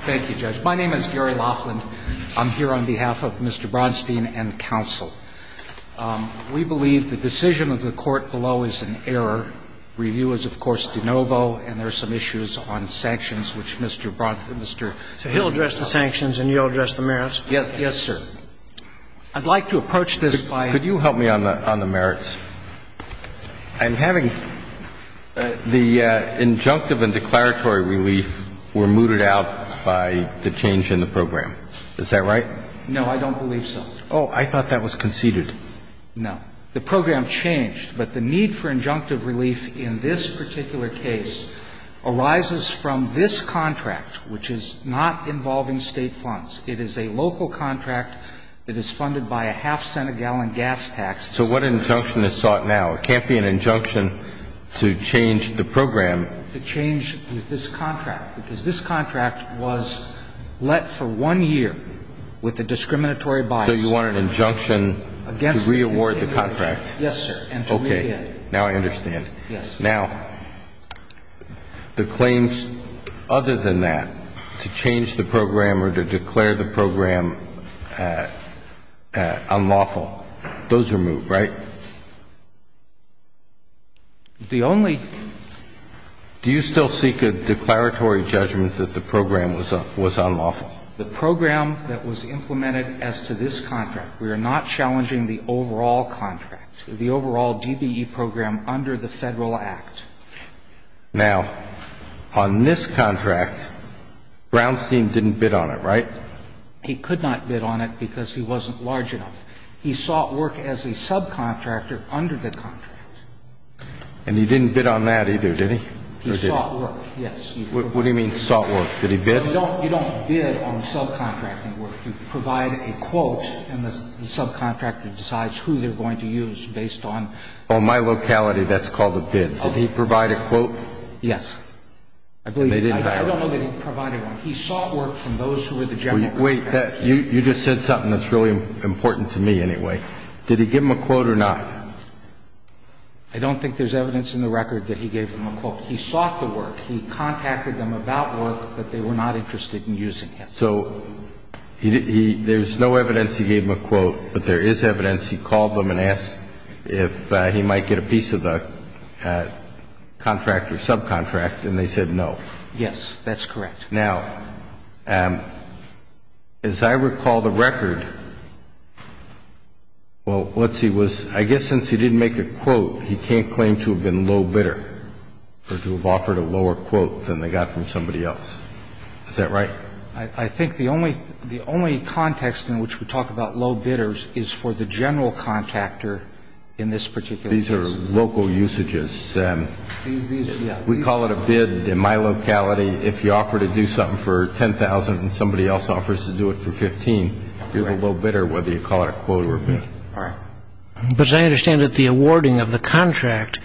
Thank you, Judge. My name is Gary Laughlin. I'm here on behalf of Mr. Braunstein and counsel. We believe the decision of the Court below is an error. Review is, of course, de novo, and there are some issues on sanctions, which Mr. Braunstein So he'll address the sanctions and you'll address the merits? Yes, sir. I'd like to approach this by Could you help me on the merits? And having the injunctive and declaratory relief were mooted out by the change in the program. Is that right? No, I don't believe so. Oh, I thought that was conceded. No. The program changed, but the need for injunctive relief in this particular case arises from this contract, which is not involving State funds. It is a local contract that is funded by a half-cent-a-gallon gas tax. So what injunction is sought now? It can't be an injunction to change the program. To change this contract, because this contract was let for one year with a discriminatory bias. So you want an injunction to re-award the contract? Yes, sir. Okay. Now I understand. Yes. Now, the claims other than that, to change the program or to declare the program unlawful, those are moved, right? The only Do you still seek a declaratory judgment that the program was unlawful? The program that was implemented as to this contract, we are not challenging the overall contract, the overall DBE program under the Federal Act. Now, on this contract, Brownstein didn't bid on it, right? He could not bid on it because he wasn't large enough. He sought work as a subcontractor under the contract. And he didn't bid on that either, did he? He sought work, yes. What do you mean sought work? Did he bid? No, you don't bid on subcontracting work. You provide a quote and the subcontractor decides who they're going to use based on On my locality, that's called a bid. Did he provide a quote? Yes. I believe that. I don't know that he provided one. He sought work from those who were the general contractors. Wait. You just said something that's really important to me anyway. Did he give them a quote or not? I don't think there's evidence in the record that he gave them a quote. He sought the work. He contacted them about work, but they were not interested in using it. So there's no evidence he gave them a quote, but there is evidence he called them and asked if he might get a piece of the contract or subcontract, and they said no. Yes, that's correct. Now, as I recall the record, well, let's see. I guess since he didn't make a quote, he can't claim to have been low bidder or to have offered a lower quote than they got from somebody else. Is that right? I think the only context in which we talk about low bidders is for the general contractor in this particular case. These are local usages. We call it a bid. In my locality, if you offer to do something for $10,000 and somebody else offers to do it for $15,000, you're the low bidder whether you call it a quote or a bid. All right. But as I understand it, the awarding of the contract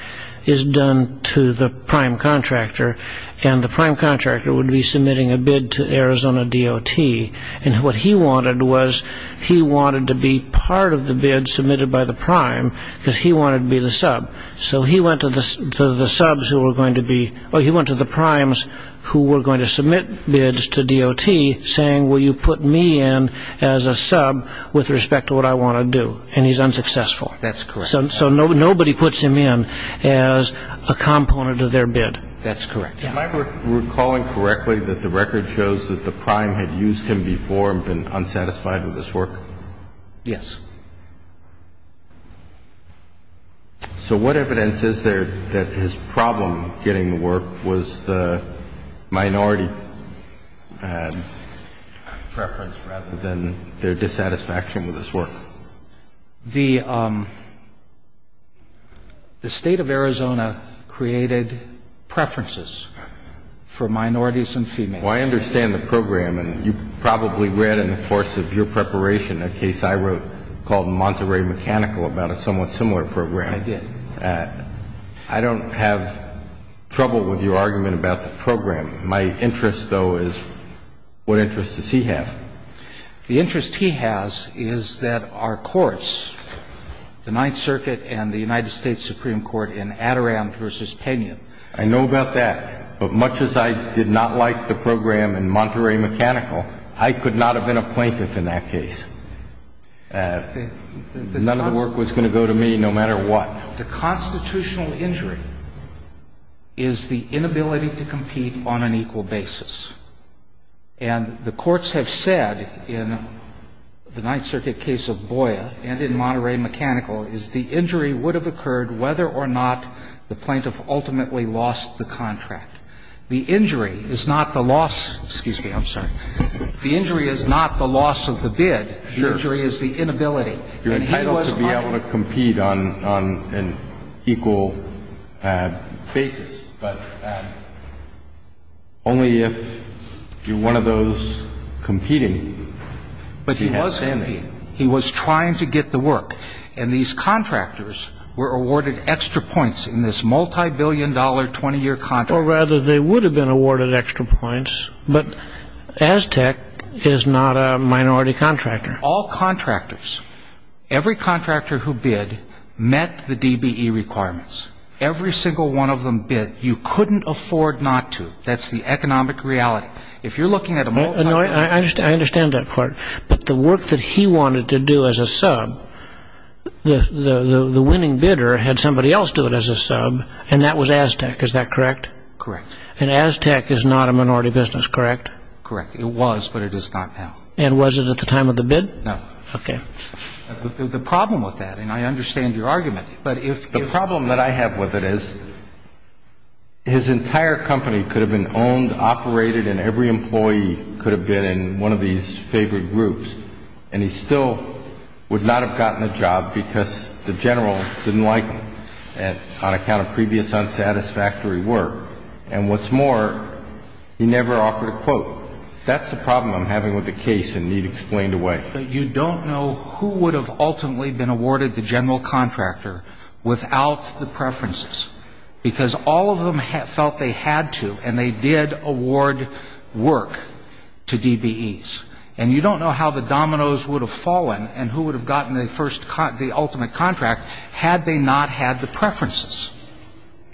is done to the prime contractor, and the prime contractor would be submitting a bid to Arizona DOT, and what he wanted was he wanted to be part of the bid submitted by the prime because he wanted to be the sub. So he went to the subs who were going to be or he went to the primes who were going to submit bids saying, well, you put me in as a sub with respect to what I want to do, and he's unsuccessful. That's correct. So nobody puts him in as a component of their bid. That's correct. Am I recalling correctly that the record shows that the prime had used him before and been unsatisfied with his work? Yes. So what evidence is there that his problem getting the work was the minority preference rather than their dissatisfaction with his work? The State of Arizona created preferences for minorities and females. Well, I understand the program, and you probably read in the course of your preparation a case I wrote called Monterey Mechanical about a somewhat similar program. I did. I don't have trouble with your argument about the program. My interest, though, is what interest does he have? The interest he has is that our courts, the Ninth Circuit and the United States Supreme Court in Adirondack v. Pena. I know about that, but much as I did not like the program in Monterey Mechanical, I could not have been a plaintiff in that case. None of the work was going to go to me no matter what. The constitutional injury is the inability to compete on an equal basis. And the courts have said in the Ninth Circuit case of Boya and in Monterey Mechanical is the injury would have occurred whether or not the plaintiff ultimately lost the contract. The injury is not the loss. Excuse me. I'm sorry. The injury is not the loss of the bid. Sure. The injury is the inability. You're entitled to be able to compete on an equal basis, but only if you're one of those competing. But he was competing. He was trying to get the work. And these contractors were awarded extra points in this multibillion-dollar 20-year contract. Or rather, they would have been awarded extra points. But Aztec is not a minority contractor. All contractors, every contractor who bid, met the DBE requirements. Every single one of them bid. You couldn't afford not to. That's the economic reality. If you're looking at a multibillion-dollar contract. I understand that part. But the work that he wanted to do as a sub, the winning bidder had somebody else do it as a sub, and that was Aztec. Is that correct? Correct. And Aztec is not a minority business, correct? Correct. It was, but it is not now. And was it at the time of the bid? No. The problem with that, and I understand your argument, but if you're... The problem that I have with it is his entire company could have been owned, operated, and every employee could have been in one of these favored groups, and he still would not have gotten a job because the general didn't like him on account of previous unsatisfactory work. And what's more, he never offered a quote. That's the problem I'm having with the case, and need explained away. But you don't know who would have ultimately been awarded the general contractor without the preferences, because all of them felt they had to, and they did award work to DBEs. And you don't know how the dominoes would have fallen and who would have gotten the ultimate contract had they not had the preferences.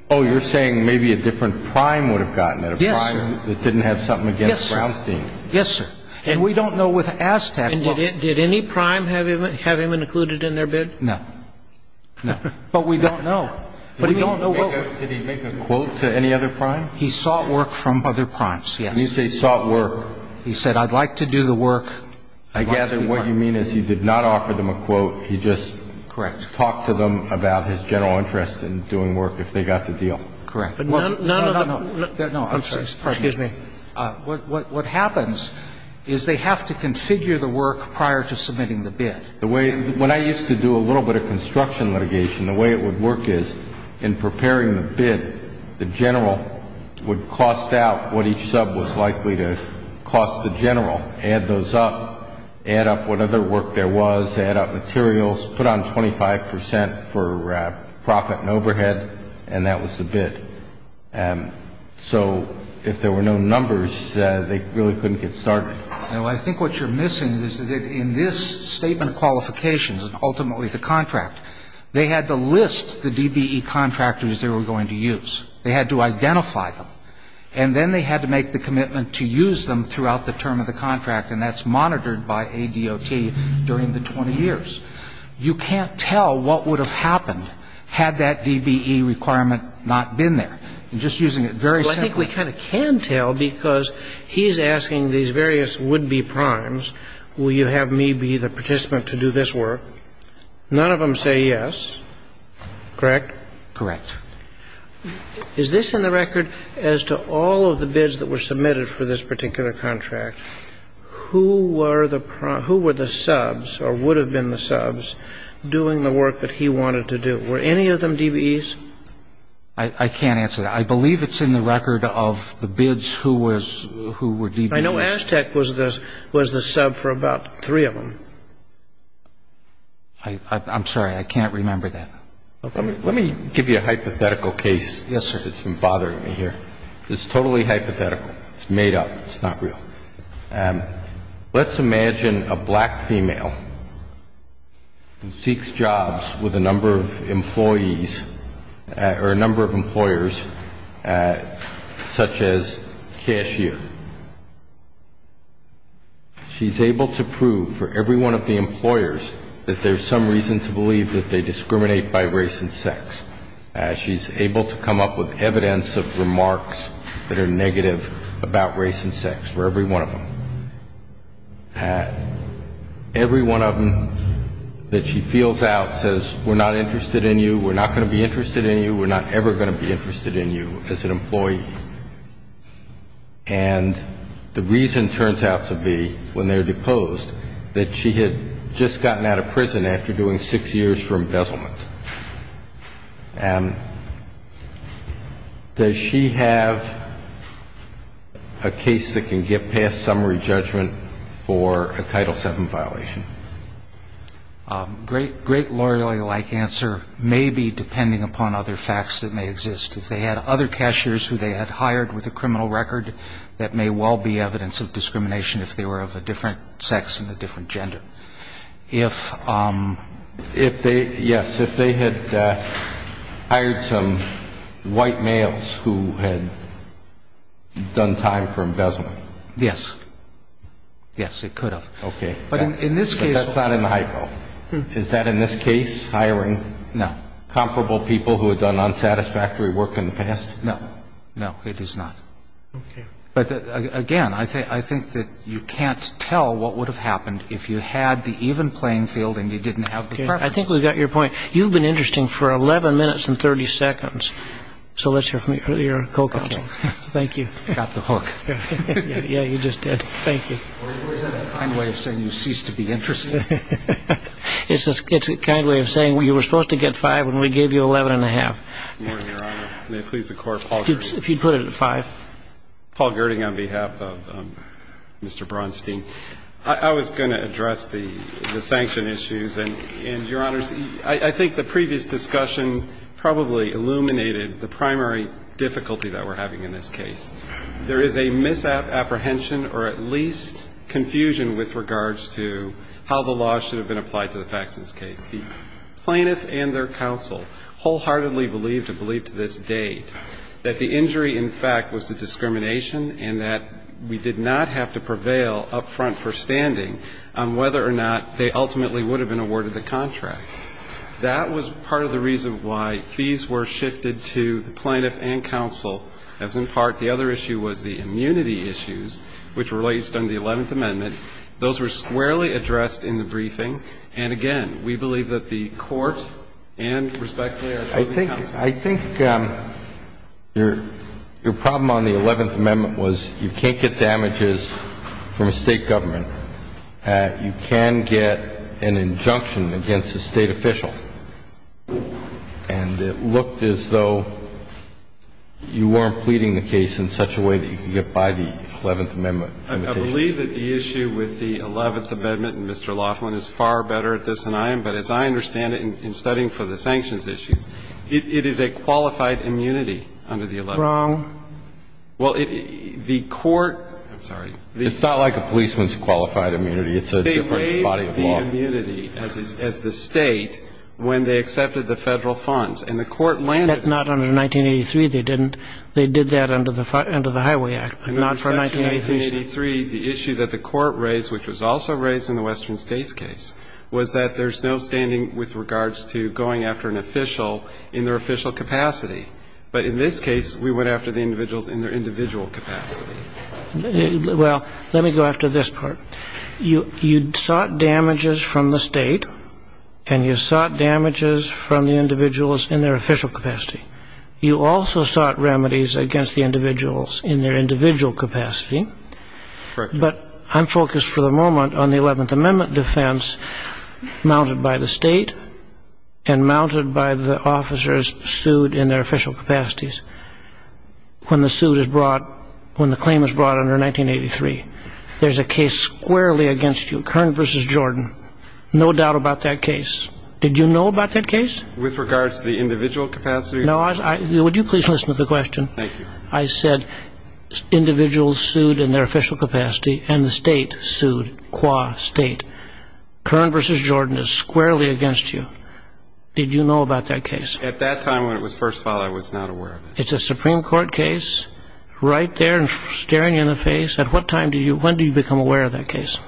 Oh, you're saying maybe a different prime would have gotten it. Yes, sir. A prime that didn't have something against Brownstein. Yes, sir. And we don't know with Aztec... And did any prime have him included in their bid? No. No. But we don't know. But we don't know... Did he make a quote to any other prime? He sought work from other primes, yes. He sought work. He said, I'd like to do the work. I gather what you mean is he did not offer them a quote. He just... Correct.... talked to them about his general interest in doing work if they got the deal. Correct. But none of the... No, no, no. I'm sorry. Excuse me. What happens is they have to configure the work prior to submitting the bid. The way... When I used to do a little bit of construction litigation, the way it would work is in preparing the bid, the general would cost out what each sub was likely to cost the general, add those up, add up what other work there was, add up materials, put on 25 percent for profit and overhead, and that was the bid. So if there were no numbers, they really couldn't get started. Well, I think what you're missing is that in this statement of qualifications and ultimately the contract, they had to list the DBE contractors they were going to use. They had to identify them. And then they had to make the commitment to use them throughout the term of the contract, and that's monitored by ADOT during the 20 years. You can't tell what would have happened had that DBE requirement not been there. I'm just using it very simply. Well, I think we kind of can tell because he's asking these various would-be primes, will you have me be the participant to do this work? None of them say yes. Correct? Correct. Is this in the record as to all of the bids that were submitted for this particular contract? Who were the prime — who were the subs or would have been the subs doing the work that he wanted to do? Were any of them DBEs? I can't answer that. I believe it's in the record of the bids who was — who were DBEs. I know Aztec was the sub for about three of them. I'm sorry. I can't remember that. Let me give you a hypothetical case. Yes, sir. It's been bothering me here. It's totally hypothetical. It's made up. It's not real. Let's imagine a black female who seeks jobs with a number of employees or a number of employers such as cashier. She's able to prove for every one of the employers that there's some reason to believe that they discriminate by race and sex. She's able to come up with evidence of remarks that are negative about race and sex for every one of them. Every one of them that she feels out says, we're not interested in you, we're not going to be interested in you, we're not ever going to be interested in you as an employee. And the reason turns out to be, when they're deposed, that she had just gotten out of prison after doing six years for embezzlement. Does she have a case that can get past summary judgment for a Title VII violation? A great lawyerly-like answer may be depending upon other facts that may exist. If they had other cashiers who they had hired with a criminal record, that may well be evidence of discrimination if they were of a different sex and a different gender. If they, yes, if they had hired some white males who had done time for embezzlement. Yes. Yes, it could have. Okay. But in this case. But that's not in the hypo. Is that in this case, hiring? No. Is that the case? No. No. Okay. But, again, I think that you can't tell what would have happened if you had the even playing field and you didn't have the preference. I think we got your point. You've been interesting for 11 minutes and 30 seconds, so let's hear from your co-counsel. Thank you. Got the hook. Yeah, you just did. Thank you. Or is that a kind way of saying you cease to be interesting? It's a kind way of saying you were supposed to get five when we gave you 11 and a half. Your Honor, may it please the Court, Paul Gerding. If you'd put it at five. Paul Gerding on behalf of Mr. Braunstein. I was going to address the sanction issues. And, Your Honors, I think the previous discussion probably illuminated the primary difficulty that we're having in this case. There is a misapprehension or at least confusion with regards to how the law should have been applied to the facts of this case. The plaintiff and their counsel wholeheartedly believed and believe to this date that the injury, in fact, was the discrimination and that we did not have to prevail up front for standing on whether or not they ultimately would have been awarded the contract. That was part of the reason why fees were shifted to the plaintiff and counsel as, in part, the other issue was the immunity issues, which relates to the 11th Amendment. Those were squarely addressed in the briefing. And, again, we believe that the Court and, respectfully, our counsel. I think your problem on the 11th Amendment was you can't get damages from a State government. You can get an injunction against a State official. And it looked as though you weren't pleading the case in such a way that you could get by the 11th Amendment. I believe that the issue with the 11th Amendment, and, Mr. Laughlin, is far better at this than I am. But as I understand it, in studying for the sanctions issues, it is a qualified immunity under the 11th Amendment. Wrong. Well, the Court – I'm sorry. It's not like a policeman's qualified immunity. It's a different body of law. They made the immunity as the State when they accepted the Federal funds. And the Court landed – But not under 1983. They didn't. They did that under the Highway Act, not for 1983. Under Section 1883, the issue that the Court raised, which was also raised in the Western States case, was that there's no standing with regards to going after an official in their official capacity. But in this case, we went after the individuals in their individual capacity. Well, let me go after this part. You sought damages from the State, and you sought damages from the individuals in their official capacity. You also sought remedies against the individuals in their individual capacity. Correct. But I'm focused for the moment on the 11th Amendment defense mounted by the State and mounted by the officers sued in their official capacities. When the suit is brought – when the claim is brought under 1983, there's a case squarely against you, Kern v. Jordan, no doubt about that case. Did you know about that case? With regards to the individual capacity? No, I – would you please listen to the question? Thank you. I said individuals sued in their official capacity, and the State sued, qua State. Kern v. Jordan is squarely against you. Did you know about that case? At that time, when it was first filed, I was not aware of it. It's a Supreme Court case right there and staring you in the face. At what time do you – when do you become aware of that case?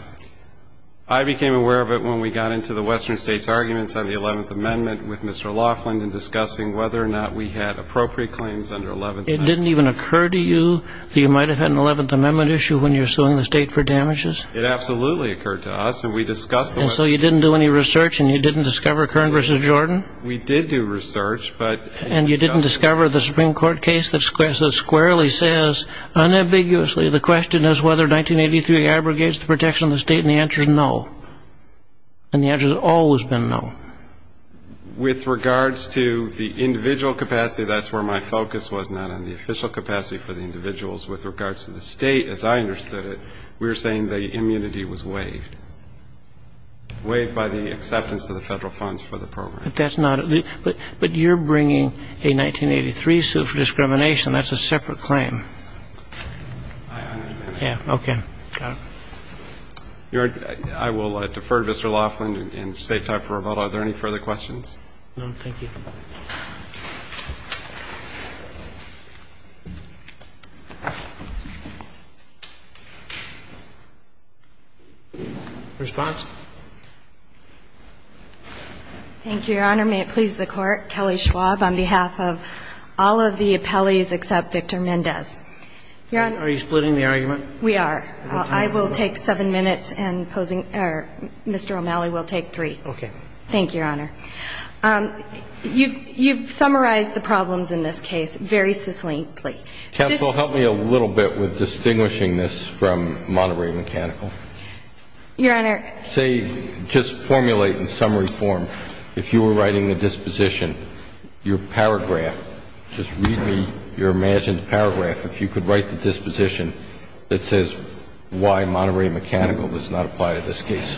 I became aware of it when we got into the Western States' arguments on the 11th Amendment with Mr. Laughlin in discussing whether or not we had appropriate claims under 11th Amendment. It didn't even occur to you that you might have had an 11th Amendment issue when you were suing the State for damages? It absolutely occurred to us, and we discussed the – And so you didn't do any research, and you didn't discover Kern v. Jordan? We did do research, but – And you didn't discover the Supreme Court case that squarely says, unambiguously, the question is whether 1983 abrogates the protection of the State, and the answer is no. And the answer has always been no. With regards to the individual capacity, that's where my focus was, not on the official capacity for the individuals. With regards to the State, as I understood it, we were saying the immunity was waived, waived by the acceptance of the federal funds for the program. But that's not – but you're bringing a 1983 suit for discrimination. That's a separate claim. I understand. Okay. Got it. I will defer to Mr. Laughlin and save time for rebuttal. Are there any further questions? No, thank you. Response? Thank you, Your Honor. May it please the Court. Kelly Schwab on behalf of all of the appellees except Victor Mendez. Your Honor – Are you splitting the argument? We are. I will take 7 minutes and posing – or Mr. O'Malley will take 3. Okay. Thank you, Your Honor. You've summarized the problems in this case very succinctly. Counsel, help me a little bit with distinguishing this from Monterey Mechanical. Your Honor – Say – just formulate in summary form. If you were writing a disposition, your paragraph – just read me your imagined paragraph if you could write the disposition that says why Monterey Mechanical does not apply to this case.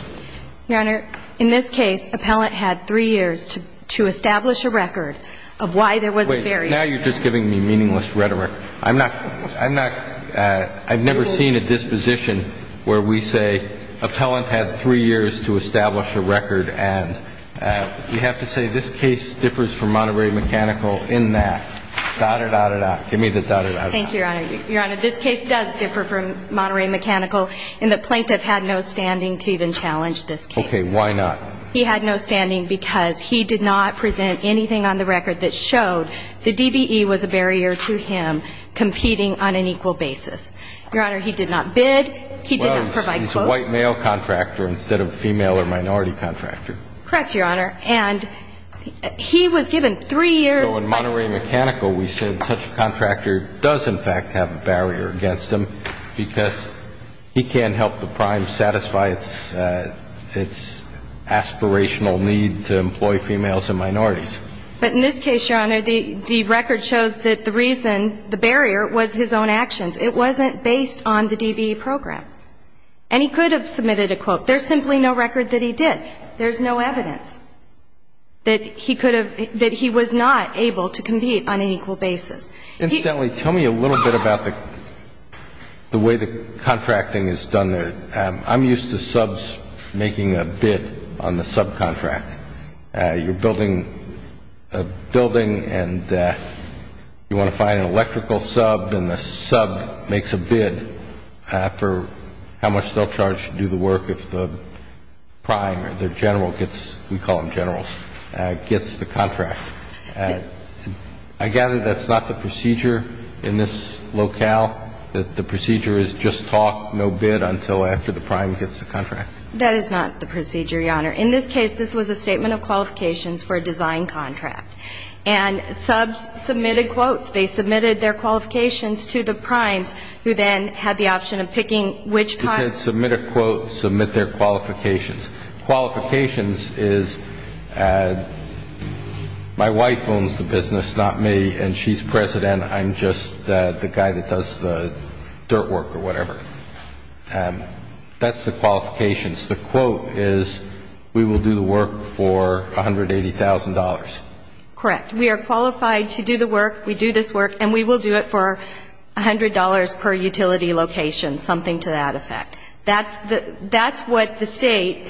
Your Honor, in this case, appellant had 3 years to establish a record of why there was a barrier. Wait. Now you're just giving me meaningless rhetoric. I'm not – I'm not – I've never seen a disposition where we say appellant had 3 years to establish a record and we have to say this case differs from Monterey Mechanical in that. Da-da-da-da-da. Give me the da-da-da-da-da. Thank you, Your Honor. Your Honor, this case does differ from Monterey Mechanical in that plaintiff had no standing to even challenge this case. Okay. Why not? He had no standing because he did not present anything on the record that showed the DBE was a barrier to him competing on an equal basis. Your Honor, he did not bid. He did not provide quotes. Well, he's a white male contractor instead of a female or minority contractor. Correct, Your Honor. And he was given 3 years. So in Monterey Mechanical, we said such a contractor does in fact have a barrier against him because he can't help the prime satisfy its – its aspirational need to employ females and minorities. But in this case, Your Honor, the record shows that the reason, the barrier, was his own actions. It wasn't based on the DBE program. And he could have submitted a quote. There's simply no record that he did. There's no evidence that he could have – that he was not able to compete on an equal basis. Incidentally, tell me a little bit about the way the contracting is done. I'm used to subs making a bid on the subcontract. You're building a building, and you want to find an electrical sub, and the sub makes a bid for how much they'll charge to do the work if the prime or the general gets – we call them generals – gets the contract. I gather that's not the procedure in this locale, that the procedure is just talk, no bid, until after the prime gets the contract? That is not the procedure, Your Honor. In this case, this was a statement of qualifications for a design contract. And subs submitted quotes. They submitted their qualifications to the primes, who then had the option of picking which – You can't submit a quote, submit their qualifications. Qualifications is my wife owns the business, not me, and she's president. I'm just the guy that does the dirt work or whatever. That's the qualifications. The quote is, we will do the work for $180,000. Correct. We are qualified to do the work, we do this work, and we will do it for $100 per utility location, something to that effect. That's what the State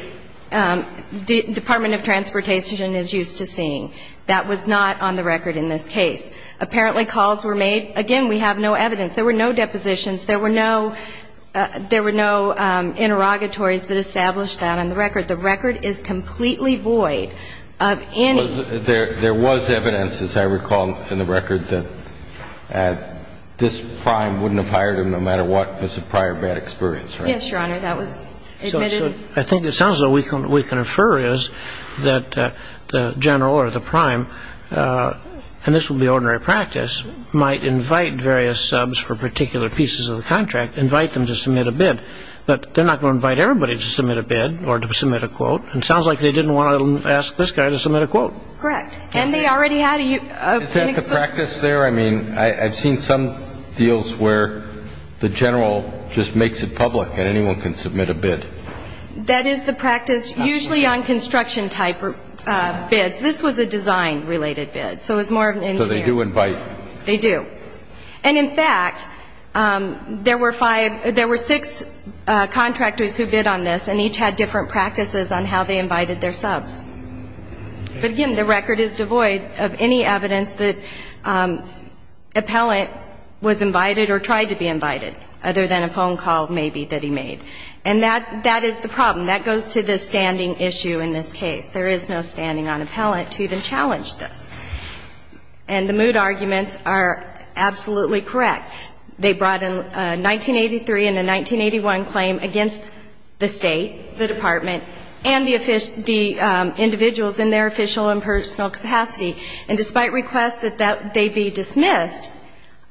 Department of Transportation is used to seeing. That was not on the record in this case. Apparently, calls were made. Again, we have no evidence. There were no depositions. There were no interrogatories that established that on the record. The record is completely void of any – There was evidence, as I recall, in the record that this prime wouldn't have hired him no matter what. It was a prior bad experience, right? Yes, Your Honor. That was admitted. I think it sounds like what we can infer is that the general or the prime, and this would be ordinary practice, might invite various subs for particular pieces of the contract, invite them to submit a bid. But they're not going to invite everybody to submit a bid or to submit a quote. It sounds like they didn't want to ask this guy to submit a quote. Correct. And they already had a – Is that the practice there? I mean, I've seen some deals where the general just makes it public and anyone can submit a bid. That is the practice, usually on construction-type bids. This was a design-related bid. So it was more of an engineer. So they do invite. They do. And, in fact, there were five – there were six contractors who bid on this and each had different practices on how they invited their subs. But, again, the record is devoid of any evidence that appellant was invited or tried to be invited, other than a phone call maybe that he made. And that is the problem. That goes to the standing issue in this case. There is no standing on appellant to even challenge this. And the mood arguments are absolutely correct. They brought in a 1983 and a 1981 claim against the State, the Department, and the individuals in their official and personal capacity. And despite requests that they be dismissed,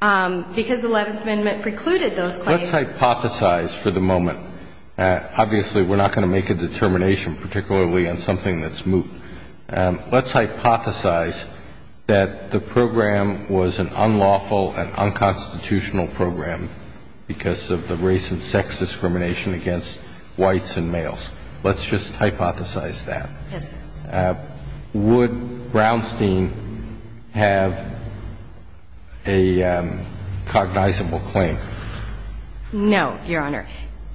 because the Eleventh Amendment precluded Let's hypothesize for the moment. Obviously, we're not going to make a determination particularly on something that's moot. Let's hypothesize that the program was an unlawful and unconstitutional program because of the race and sex discrimination against whites and males. Let's just hypothesize that. Yes, sir. Would Brownstein have a cognizable claim? No, Your Honor.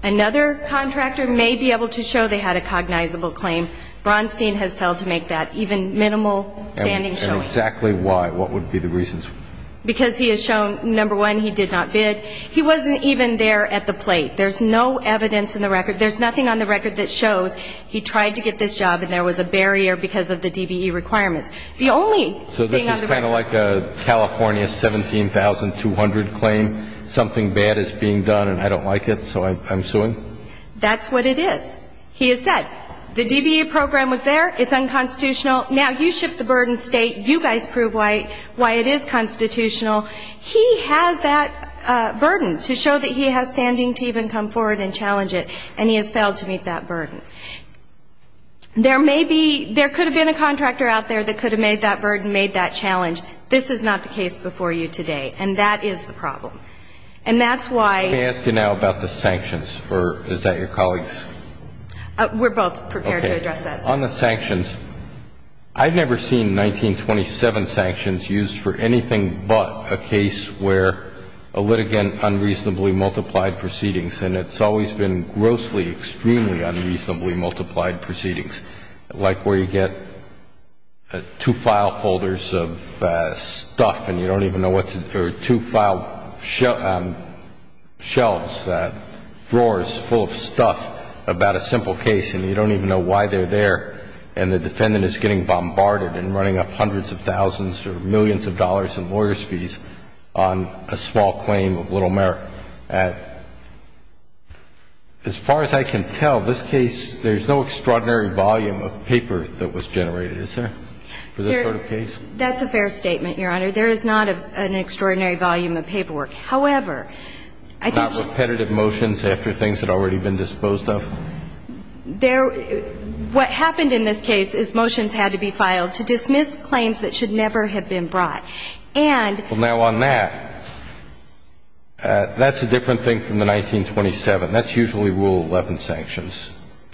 Another contractor may be able to show they had a cognizable claim. Brownstein has failed to make that even minimal standing showing. And exactly why? What would be the reasons? Because he has shown, number one, he did not bid. He wasn't even there at the plate. There's no evidence in the record. There's nothing on the record that shows he tried to get this job and there was a barrier because of the DBE requirements. The only thing on the record. So this is kind of like a California 17,200 claim. Something bad is being done and I don't like it, so I'm suing? That's what it is. He has said the DBE program was there. It's unconstitutional. Now you shift the burden state. You guys prove why it is constitutional. He has that burden to show that he has standing to even come forward and challenge it, and he has failed to meet that burden. There may be, there could have been a contractor out there that could have made that burden, made that challenge. This is not the case before you today, and that is the problem. And that's why. Let me ask you now about the sanctions, or is that your colleagues? We're both prepared to address that, sir. Okay. On the sanctions, I've never seen 1927 sanctions used for anything but a case where a litigant unreasonably multiplied proceedings, and it's always been grossly, extremely unreasonably multiplied proceedings, like where you get two file folders of stuff, and you don't even know what's in there, two file shelves, drawers full of stuff about a simple case, and you don't even know why they're there, and the defendant is getting bombarded and running up hundreds of thousands or millions of dollars in lawyer's fees on a small claim of little merit. As far as I can tell, this case, there's no extraordinary volume of paper that was generated, is there, for this sort of case? That's a fair statement, Your Honor. There is not an extraordinary volume of paperwork. However, I think that's the case. Not repetitive motions after things had already been disposed of? There – what happened in this case is motions had to be filed to dismiss claims that should never have been brought. And – Well, now, on that, that's a different thing from the 1927.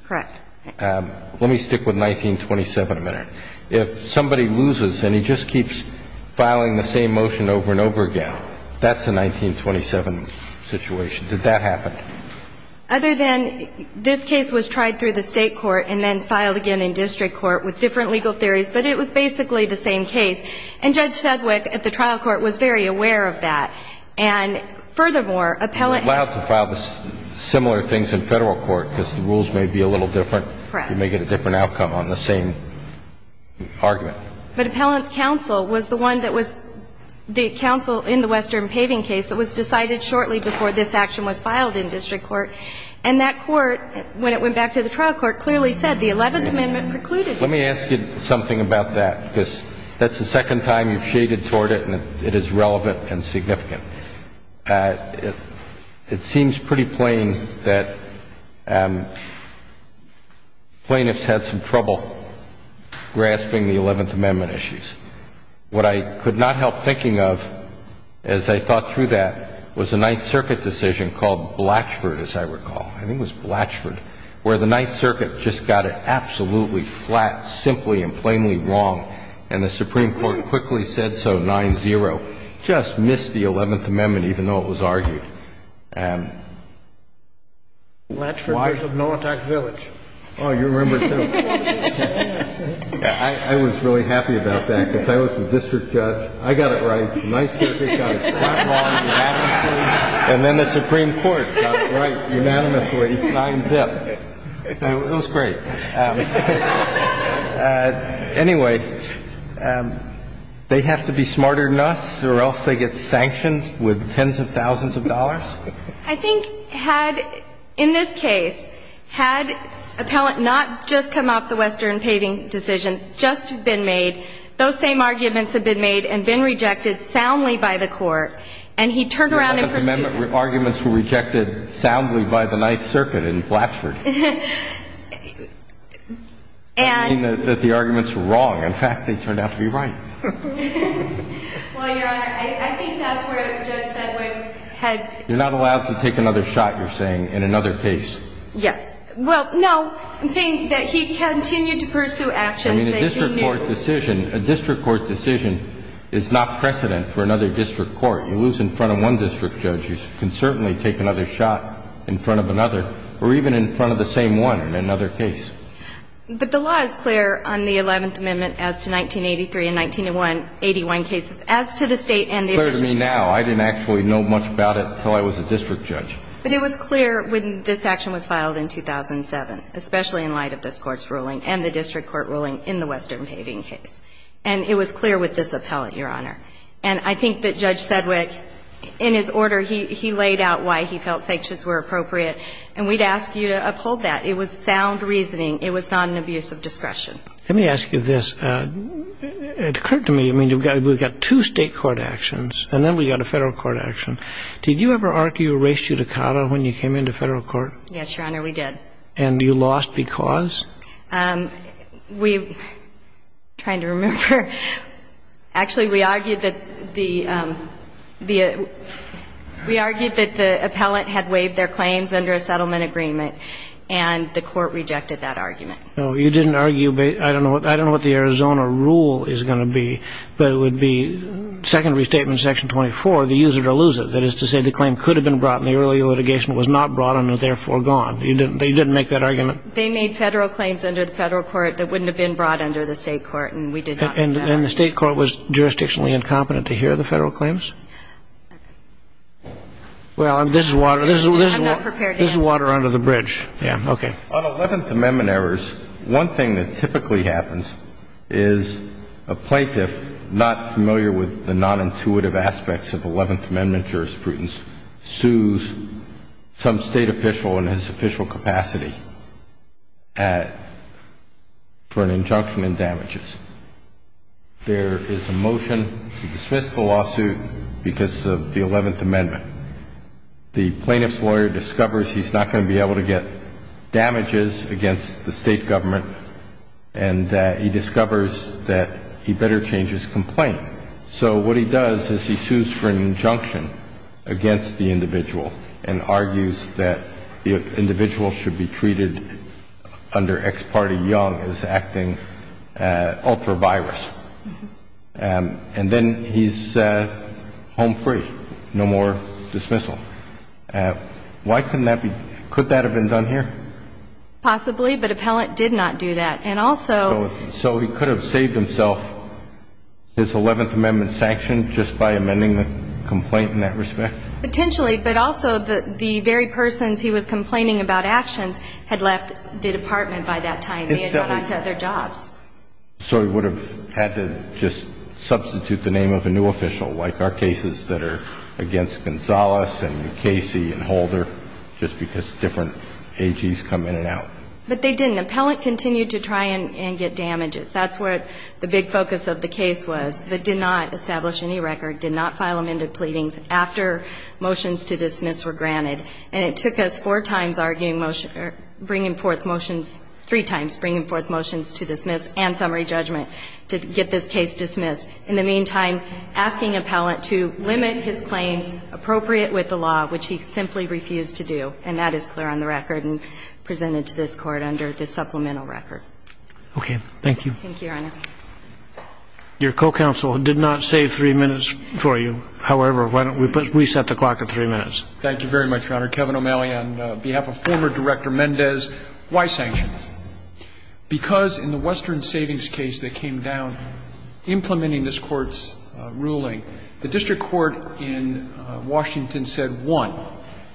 Correct. Let me stick with 1927 a minute. If somebody loses and he just keeps filing the same motion over and over again, that's a 1927 situation. Did that happen? Other than this case was tried through the State court and then filed again in district court with different legal theories, but it was basically the same case. And Judge Sedgwick at the trial court was very aware of that. And furthermore, appellate – You're allowed to file similar things in Federal court because the rules may be a little different. Correct. You may get a different outcome on the same argument. But appellant's counsel was the one that was – the counsel in the Western Paving case that was decided shortly before this action was filed in district court. And that court, when it went back to the trial court, clearly said the Eleventh Amendment precluded this. Let me ask you something about that, because that's the second time you've shaded toward it and it is relevant and significant. It seems pretty plain that plaintiffs had some trouble grasping the Eleventh Amendment issues. What I could not help thinking of as I thought through that was a Ninth Circuit decision called Blatchford, as I recall. I think it was Blatchford, where the Ninth Circuit just got it absolutely flat, simply and plainly wrong. And the Supreme Court quickly said so, 9-0. Just missed the Eleventh Amendment. It was the Eleventh Amendment, even though it was argued. Blatchford was a no-attack village. Oh, you remember, too. I was really happy about that, because I was the district judge. I got it right. The Ninth Circuit got it flat wrong unanimously. And then the Supreme Court got it right unanimously, 9-0. It was great. Anyway, they have to be smarter than us or else they get sanctioned with tens of thousands of dollars? I think had, in this case, had appellant not just come off the Western paving decision, just been made, those same arguments had been made and been rejected soundly by the Court, and he turned around in pursuit. The Eleventh Amendment arguments were rejected soundly by the Ninth Circuit in Blatchford. I mean, that the arguments were wrong. In fact, they turned out to be right. Well, Your Honor, I think that's where Judge Sedgwick had. You're not allowed to take another shot, you're saying, in another case. Yes. Well, no. I'm saying that he continued to pursue actions that he knew. I mean, a district court decision, a district court decision is not precedent for another district court. You lose in front of one district judge. You can certainly take another shot in front of another or even in front of the same one in another case. But the law is clear on the Eleventh Amendment as to 1983 and 1981 cases, as to the State and the official cases. It's clear to me now. I didn't actually know much about it until I was a district judge. But it was clear when this action was filed in 2007, especially in light of this Court's ruling and the district court ruling in the Western paving case. And it was clear with this appellant, Your Honor. And I think that Judge Sedgwick, in his order, he laid out why he felt sanctions were appropriate. And we'd ask you to uphold that. It was sound reasoning. It was not an abuse of discretion. Let me ask you this. It occurred to me, I mean, we've got two State court actions and then we've got a Federal court action. Did you ever argue a race judicata when you came into Federal court? Yes, Your Honor, we did. And you lost because? Trying to remember. Actually, we argued that the appellant had waived their claims under a settlement agreement. And the Court rejected that argument. No, you didn't argue. I don't know what the Arizona rule is going to be. But it would be Second Restatement Section 24, the user to lose it. That is to say, the claim could have been brought in the earlier litigation, was not brought in, and is therefore gone. You didn't make that argument? They made Federal claims under the Federal court that wouldn't have been brought under the State court, and we did not make that argument. And the State court was jurisdictionally incompetent to hear the Federal claims? Okay. Well, this is water under the bridge. I'm not prepared to answer. Yeah, okay. On Eleventh Amendment errors, one thing that typically happens is a plaintiff, not familiar with the nonintuitive aspects of Eleventh Amendment jurisprudence, sues some State official in his official capacity for an injunction in damages. There is a motion to dismiss the lawsuit because of the Eleventh Amendment. The plaintiff's lawyer discovers he's not going to be able to get damages against the State government, and he discovers that he better change his complaint. So what he does is he sues for an injunction against the individual and argues that the individual should be treated under ex parte young as acting ultra virus. And then he's home free, no more dismissal. Why couldn't that be? Could that have been done here? Possibly, but Appellant did not do that. So he could have saved himself his Eleventh Amendment sanction just by amending the complaint in that respect? Potentially, but also the very persons he was complaining about actions had left the Department by that time. They had gone on to other jobs. So he would have had to just substitute the name of a new official, like our cases that are against Gonzales and New Casey and Holder, just because different AGs come in and out. But they didn't. Appellant continued to try and get damages. That's what the big focus of the case was, but did not establish any record, did not file amended pleadings after motions to dismiss were granted. And it took us four times arguing motions or bringing forth motions, three times bringing forth motions to dismiss and summary judgment to get this case dismissed. In the meantime, asking Appellant to limit his claims appropriate with the law, which he simply refused to do. And that is clear on the record and presented to this Court under the supplemental record. Okay. Thank you. Thank you, Your Honor. Your co-counsel did not save three minutes for you. However, why don't we reset the clock to three minutes. Thank you very much, Your Honor. Kevin O'Malley, on behalf of former Director Mendez. Why sanctions? Because in the Western Savings case that came down, implementing this Court's ruling, the district court in Washington said, one,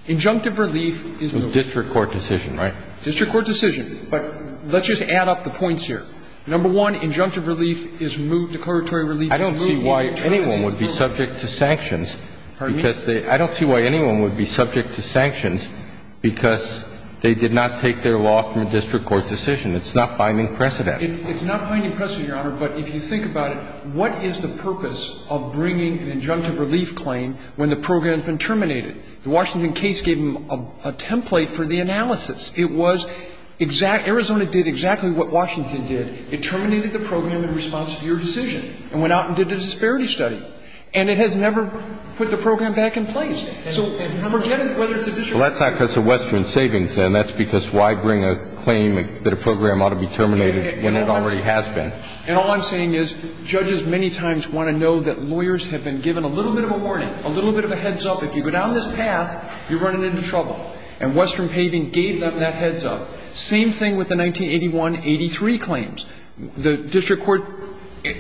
injunctive relief for the district court decision, right? District court decision. But let's just add up the points here. Number one, injunctive relief is moved, declaratory relief is moved. I don't see why anyone would be subject to sanctions. Pardon me? I don't see why anyone would be subject to sanctions because they did not take their law from a district court decision. It's not binding precedent. It's not binding precedent, Your Honor, but if you think about it, what is the purpose of bringing an injunctive relief claim when the program has been terminated? The Washington case gave them a template for the analysis. It was exact – Arizona did exactly what Washington did. It terminated the program in response to your decision and went out and did a disparity study. And it has never put the program back in place. So forget whether it's a district court decision. Well, that's not because of Western Savings, then. That's because why bring a claim that a program ought to be terminated when it already has been? And all I'm saying is judges many times want to know that lawyers have been given a little bit of a warning, a little bit of a heads-up. If you go down this path, you're running into trouble. And Western Paving gave them that heads-up. Same thing with the 1981-83 claims. The district court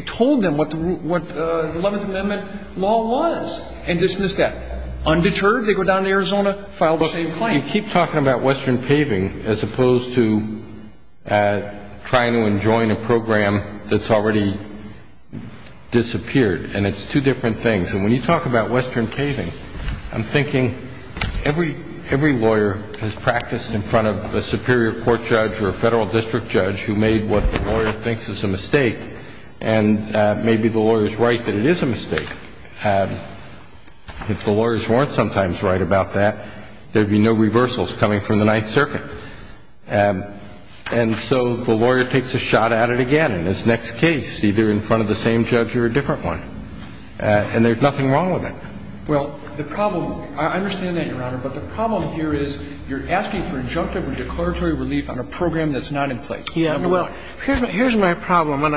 told them what the Eleventh Amendment law was and dismissed that. Undeterred, they go down to Arizona, filed the same claim. But you keep talking about Western Paving as opposed to trying to enjoin a program that's already disappeared. And it's two different things. And when you talk about Western Paving, I'm thinking every lawyer has practiced in front of a superior court judge or a federal district judge who made what the lawyer thinks is a mistake. And maybe the lawyer is right that it is a mistake. If the lawyers weren't sometimes right about that, there would be no reversals coming from the Ninth Circuit. And so the lawyer takes a shot at it again in his next case, either in front of the same judge or a different one. And there's nothing wrong with that. Well, the problem – I understand that, Your Honor. But the problem here is you're asking for injunctive or declaratory relief on a program that's not in place. Yeah. Well, here's my problem. And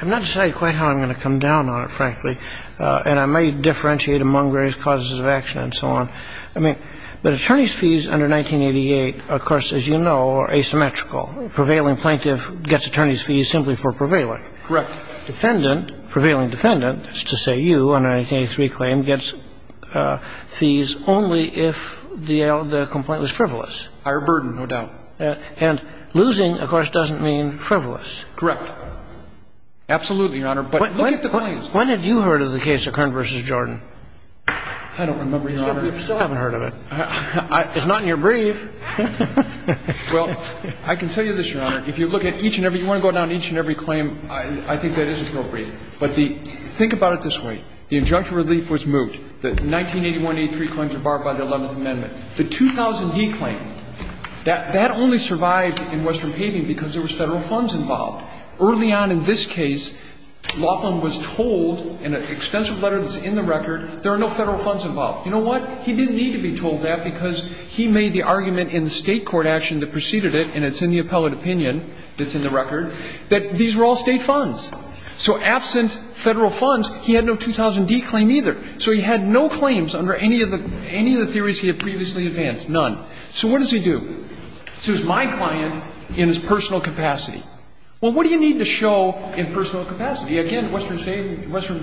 I've not decided quite how I'm going to come down on it, frankly. And I may differentiate among various causes of action and so on. I mean, but attorneys' fees under 1988, of course, as you know, are asymmetrical. A prevailing plaintiff gets attorneys' fees simply for prevailing. Correct. And the defendant, prevailing defendant, is to say you, on a 1983 claim, gets fees only if the complaint was frivolous. Higher burden, no doubt. And losing, of course, doesn't mean frivolous. Correct. Absolutely, Your Honor. But look at the claims. When had you heard of the case of Kern v. Jordan? I don't remember, Your Honor. You still haven't heard of it. It's not in your brief. Well, I can tell you this, Your Honor. If you look at each and every, you want to go down each and every claim, I think that is appropriate. But think about it this way. The injunctive relief was moot. The 1981-83 claims were barred by the Eleventh Amendment. The 2000D claim, that only survived in Western Paving because there was Federal funds involved. Early on in this case, Laughlin was told in an extensive letter that's in the record, there are no Federal funds involved. You know what? He didn't need to be told that because he made the argument in the State court action that preceded it, and it's in the appellate opinion that's in the record, that these were all State funds. So absent Federal funds, he had no 2000D claim either. So he had no claims under any of the theories he had previously advanced. None. So what does he do? So it's my client in his personal capacity. Well, what do you need to show in personal capacity? Again, Western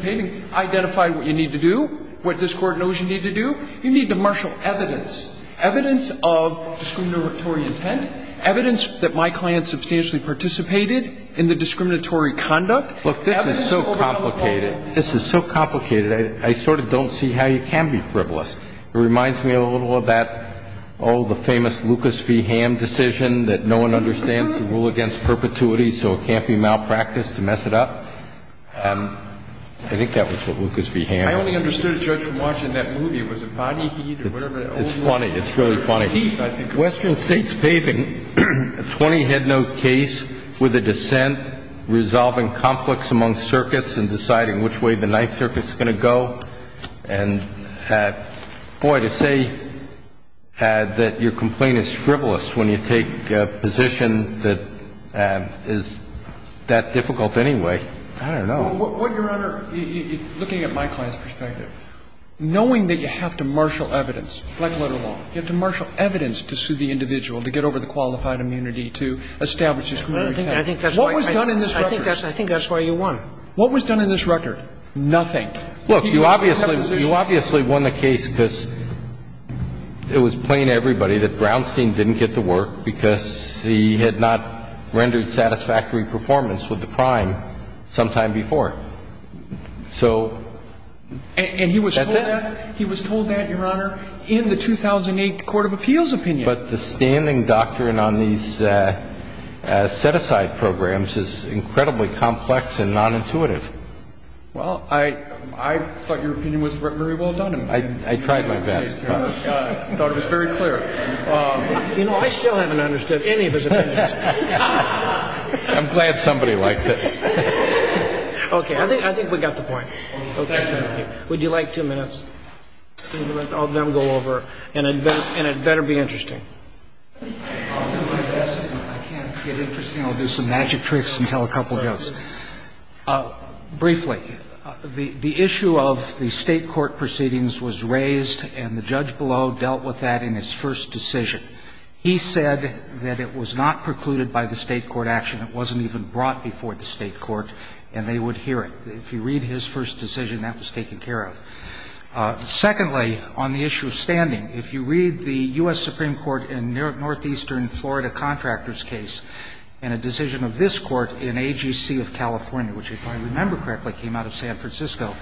Paving identified what you need to do, what this Court knows you need to do. You need to marshal evidence, evidence of discriminatory intent, evidence that my client substantially participated in the discriminatory conduct. Look, this is so complicated. This is so complicated. I sort of don't see how you can be frivolous. It reminds me a little of that, oh, the famous Lucas v. Ham decision that no one understands the rule against perpetuity, so it can't be malpracticed to mess it up. I think that was what Lucas v. Ham. I only understood it, Judge, from watching that movie. Was it body heat or whatever? It's funny. It's really funny. Western States Paving, a 20-head note case with a dissent, resolving conflicts among circuits and deciding which way the Ninth Circuit is going to go. And, boy, to say that your complaint is frivolous when you take a position that is that difficult anyway, I don't know. Well, Your Honor, looking at my client's perspective, knowing that you have to marshal evidence, like letter law, you have to marshal evidence to sue the individual to get over the qualified immunity to establish discriminatory intent. What was done in this record? I think that's why you won. What was done in this record? Nothing. Look, you obviously won the case because it was plain to everybody that Brownstein didn't get the work because he had not rendered satisfactory performance with the crime sometime before. So that's it. And he was told that, Your Honor, in the 2008 Court of Appeals opinion. But the standing doctrine on these set-aside programs is incredibly complex and nonintuitive. Well, I thought your opinion was very well done. I tried my best. I thought it was very clear. You know, I still haven't understood any of his opinions. I'm glad somebody liked it. Okay. I think we got the point. Would you like two minutes? I'll let them go over. And it better be interesting. I'll do my best. If I can't get interesting, I'll do some magic tricks and tell a couple jokes. Briefly, the issue of the State court proceedings was raised and the judge below dealt with that in his first decision. He said that it was not precluded by the State court action. It wasn't even brought before the State court, and they would hear it. If you read his first decision, that was taken care of. Secondly, on the issue of standing, if you read the U.S. Supreme Court in Northeastern Florida contractor's case and a decision of this court in AGC of California, which if I remember correctly came out of San Francisco,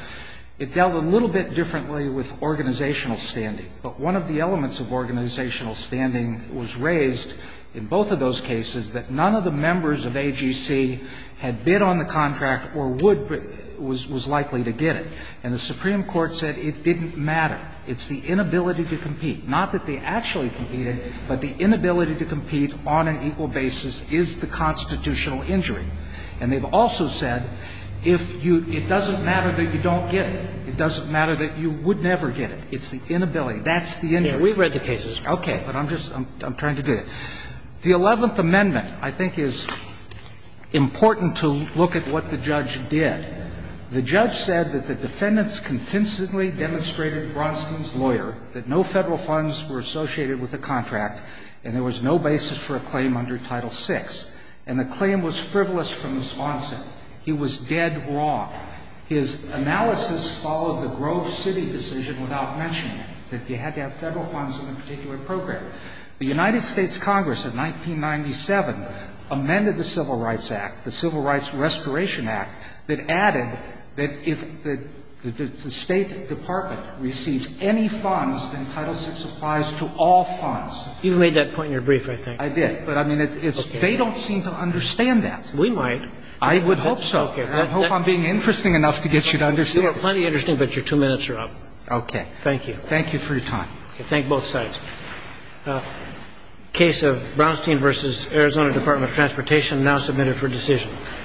it dealt a little bit differently with organizational standing. But one of the elements of organizational standing was raised in both of those cases that none of the members of AGC had bid on the contract or would but was likely to get it. And the Supreme Court said it didn't matter. It's the inability to compete, not that they actually competed, but the inability to compete on an equal basis is the constitutional injury. And they've also said if you — it doesn't matter that you don't get it. It doesn't matter that you would never get it. It's the inability. That's the injury. Roberts. We've read the cases. Okay. But I'm just — I'm trying to do it. The Eleventh Amendment, I think, is important to look at what the judge did. The judge said that the defendants convincingly demonstrated Bronson's lawyer that no Federal funds were associated with the contract and there was no basis for a claim under Title VI. And the claim was frivolous from the sponsor. He was dead wrong. He was dead wrong. His analysis followed the Grove City decision without mentioning it, that you had to have Federal funds in a particular program. The United States Congress in 1997 amended the Civil Rights Act, the Civil Rights Restoration Act, that added that if the State Department receives any funds, then Title VI applies to all funds. You've made that point in your brief, I think. I did. But, I mean, it's — they don't seem to understand that. We might. I would hope so. I hope I'm being interesting enough to get you to understand. You are plenty interesting, but your two minutes are up. Okay. Thank you. Thank you for your time. Thank both sides. Case of Brownstein v. Arizona Department of Transportation now submitted for decision.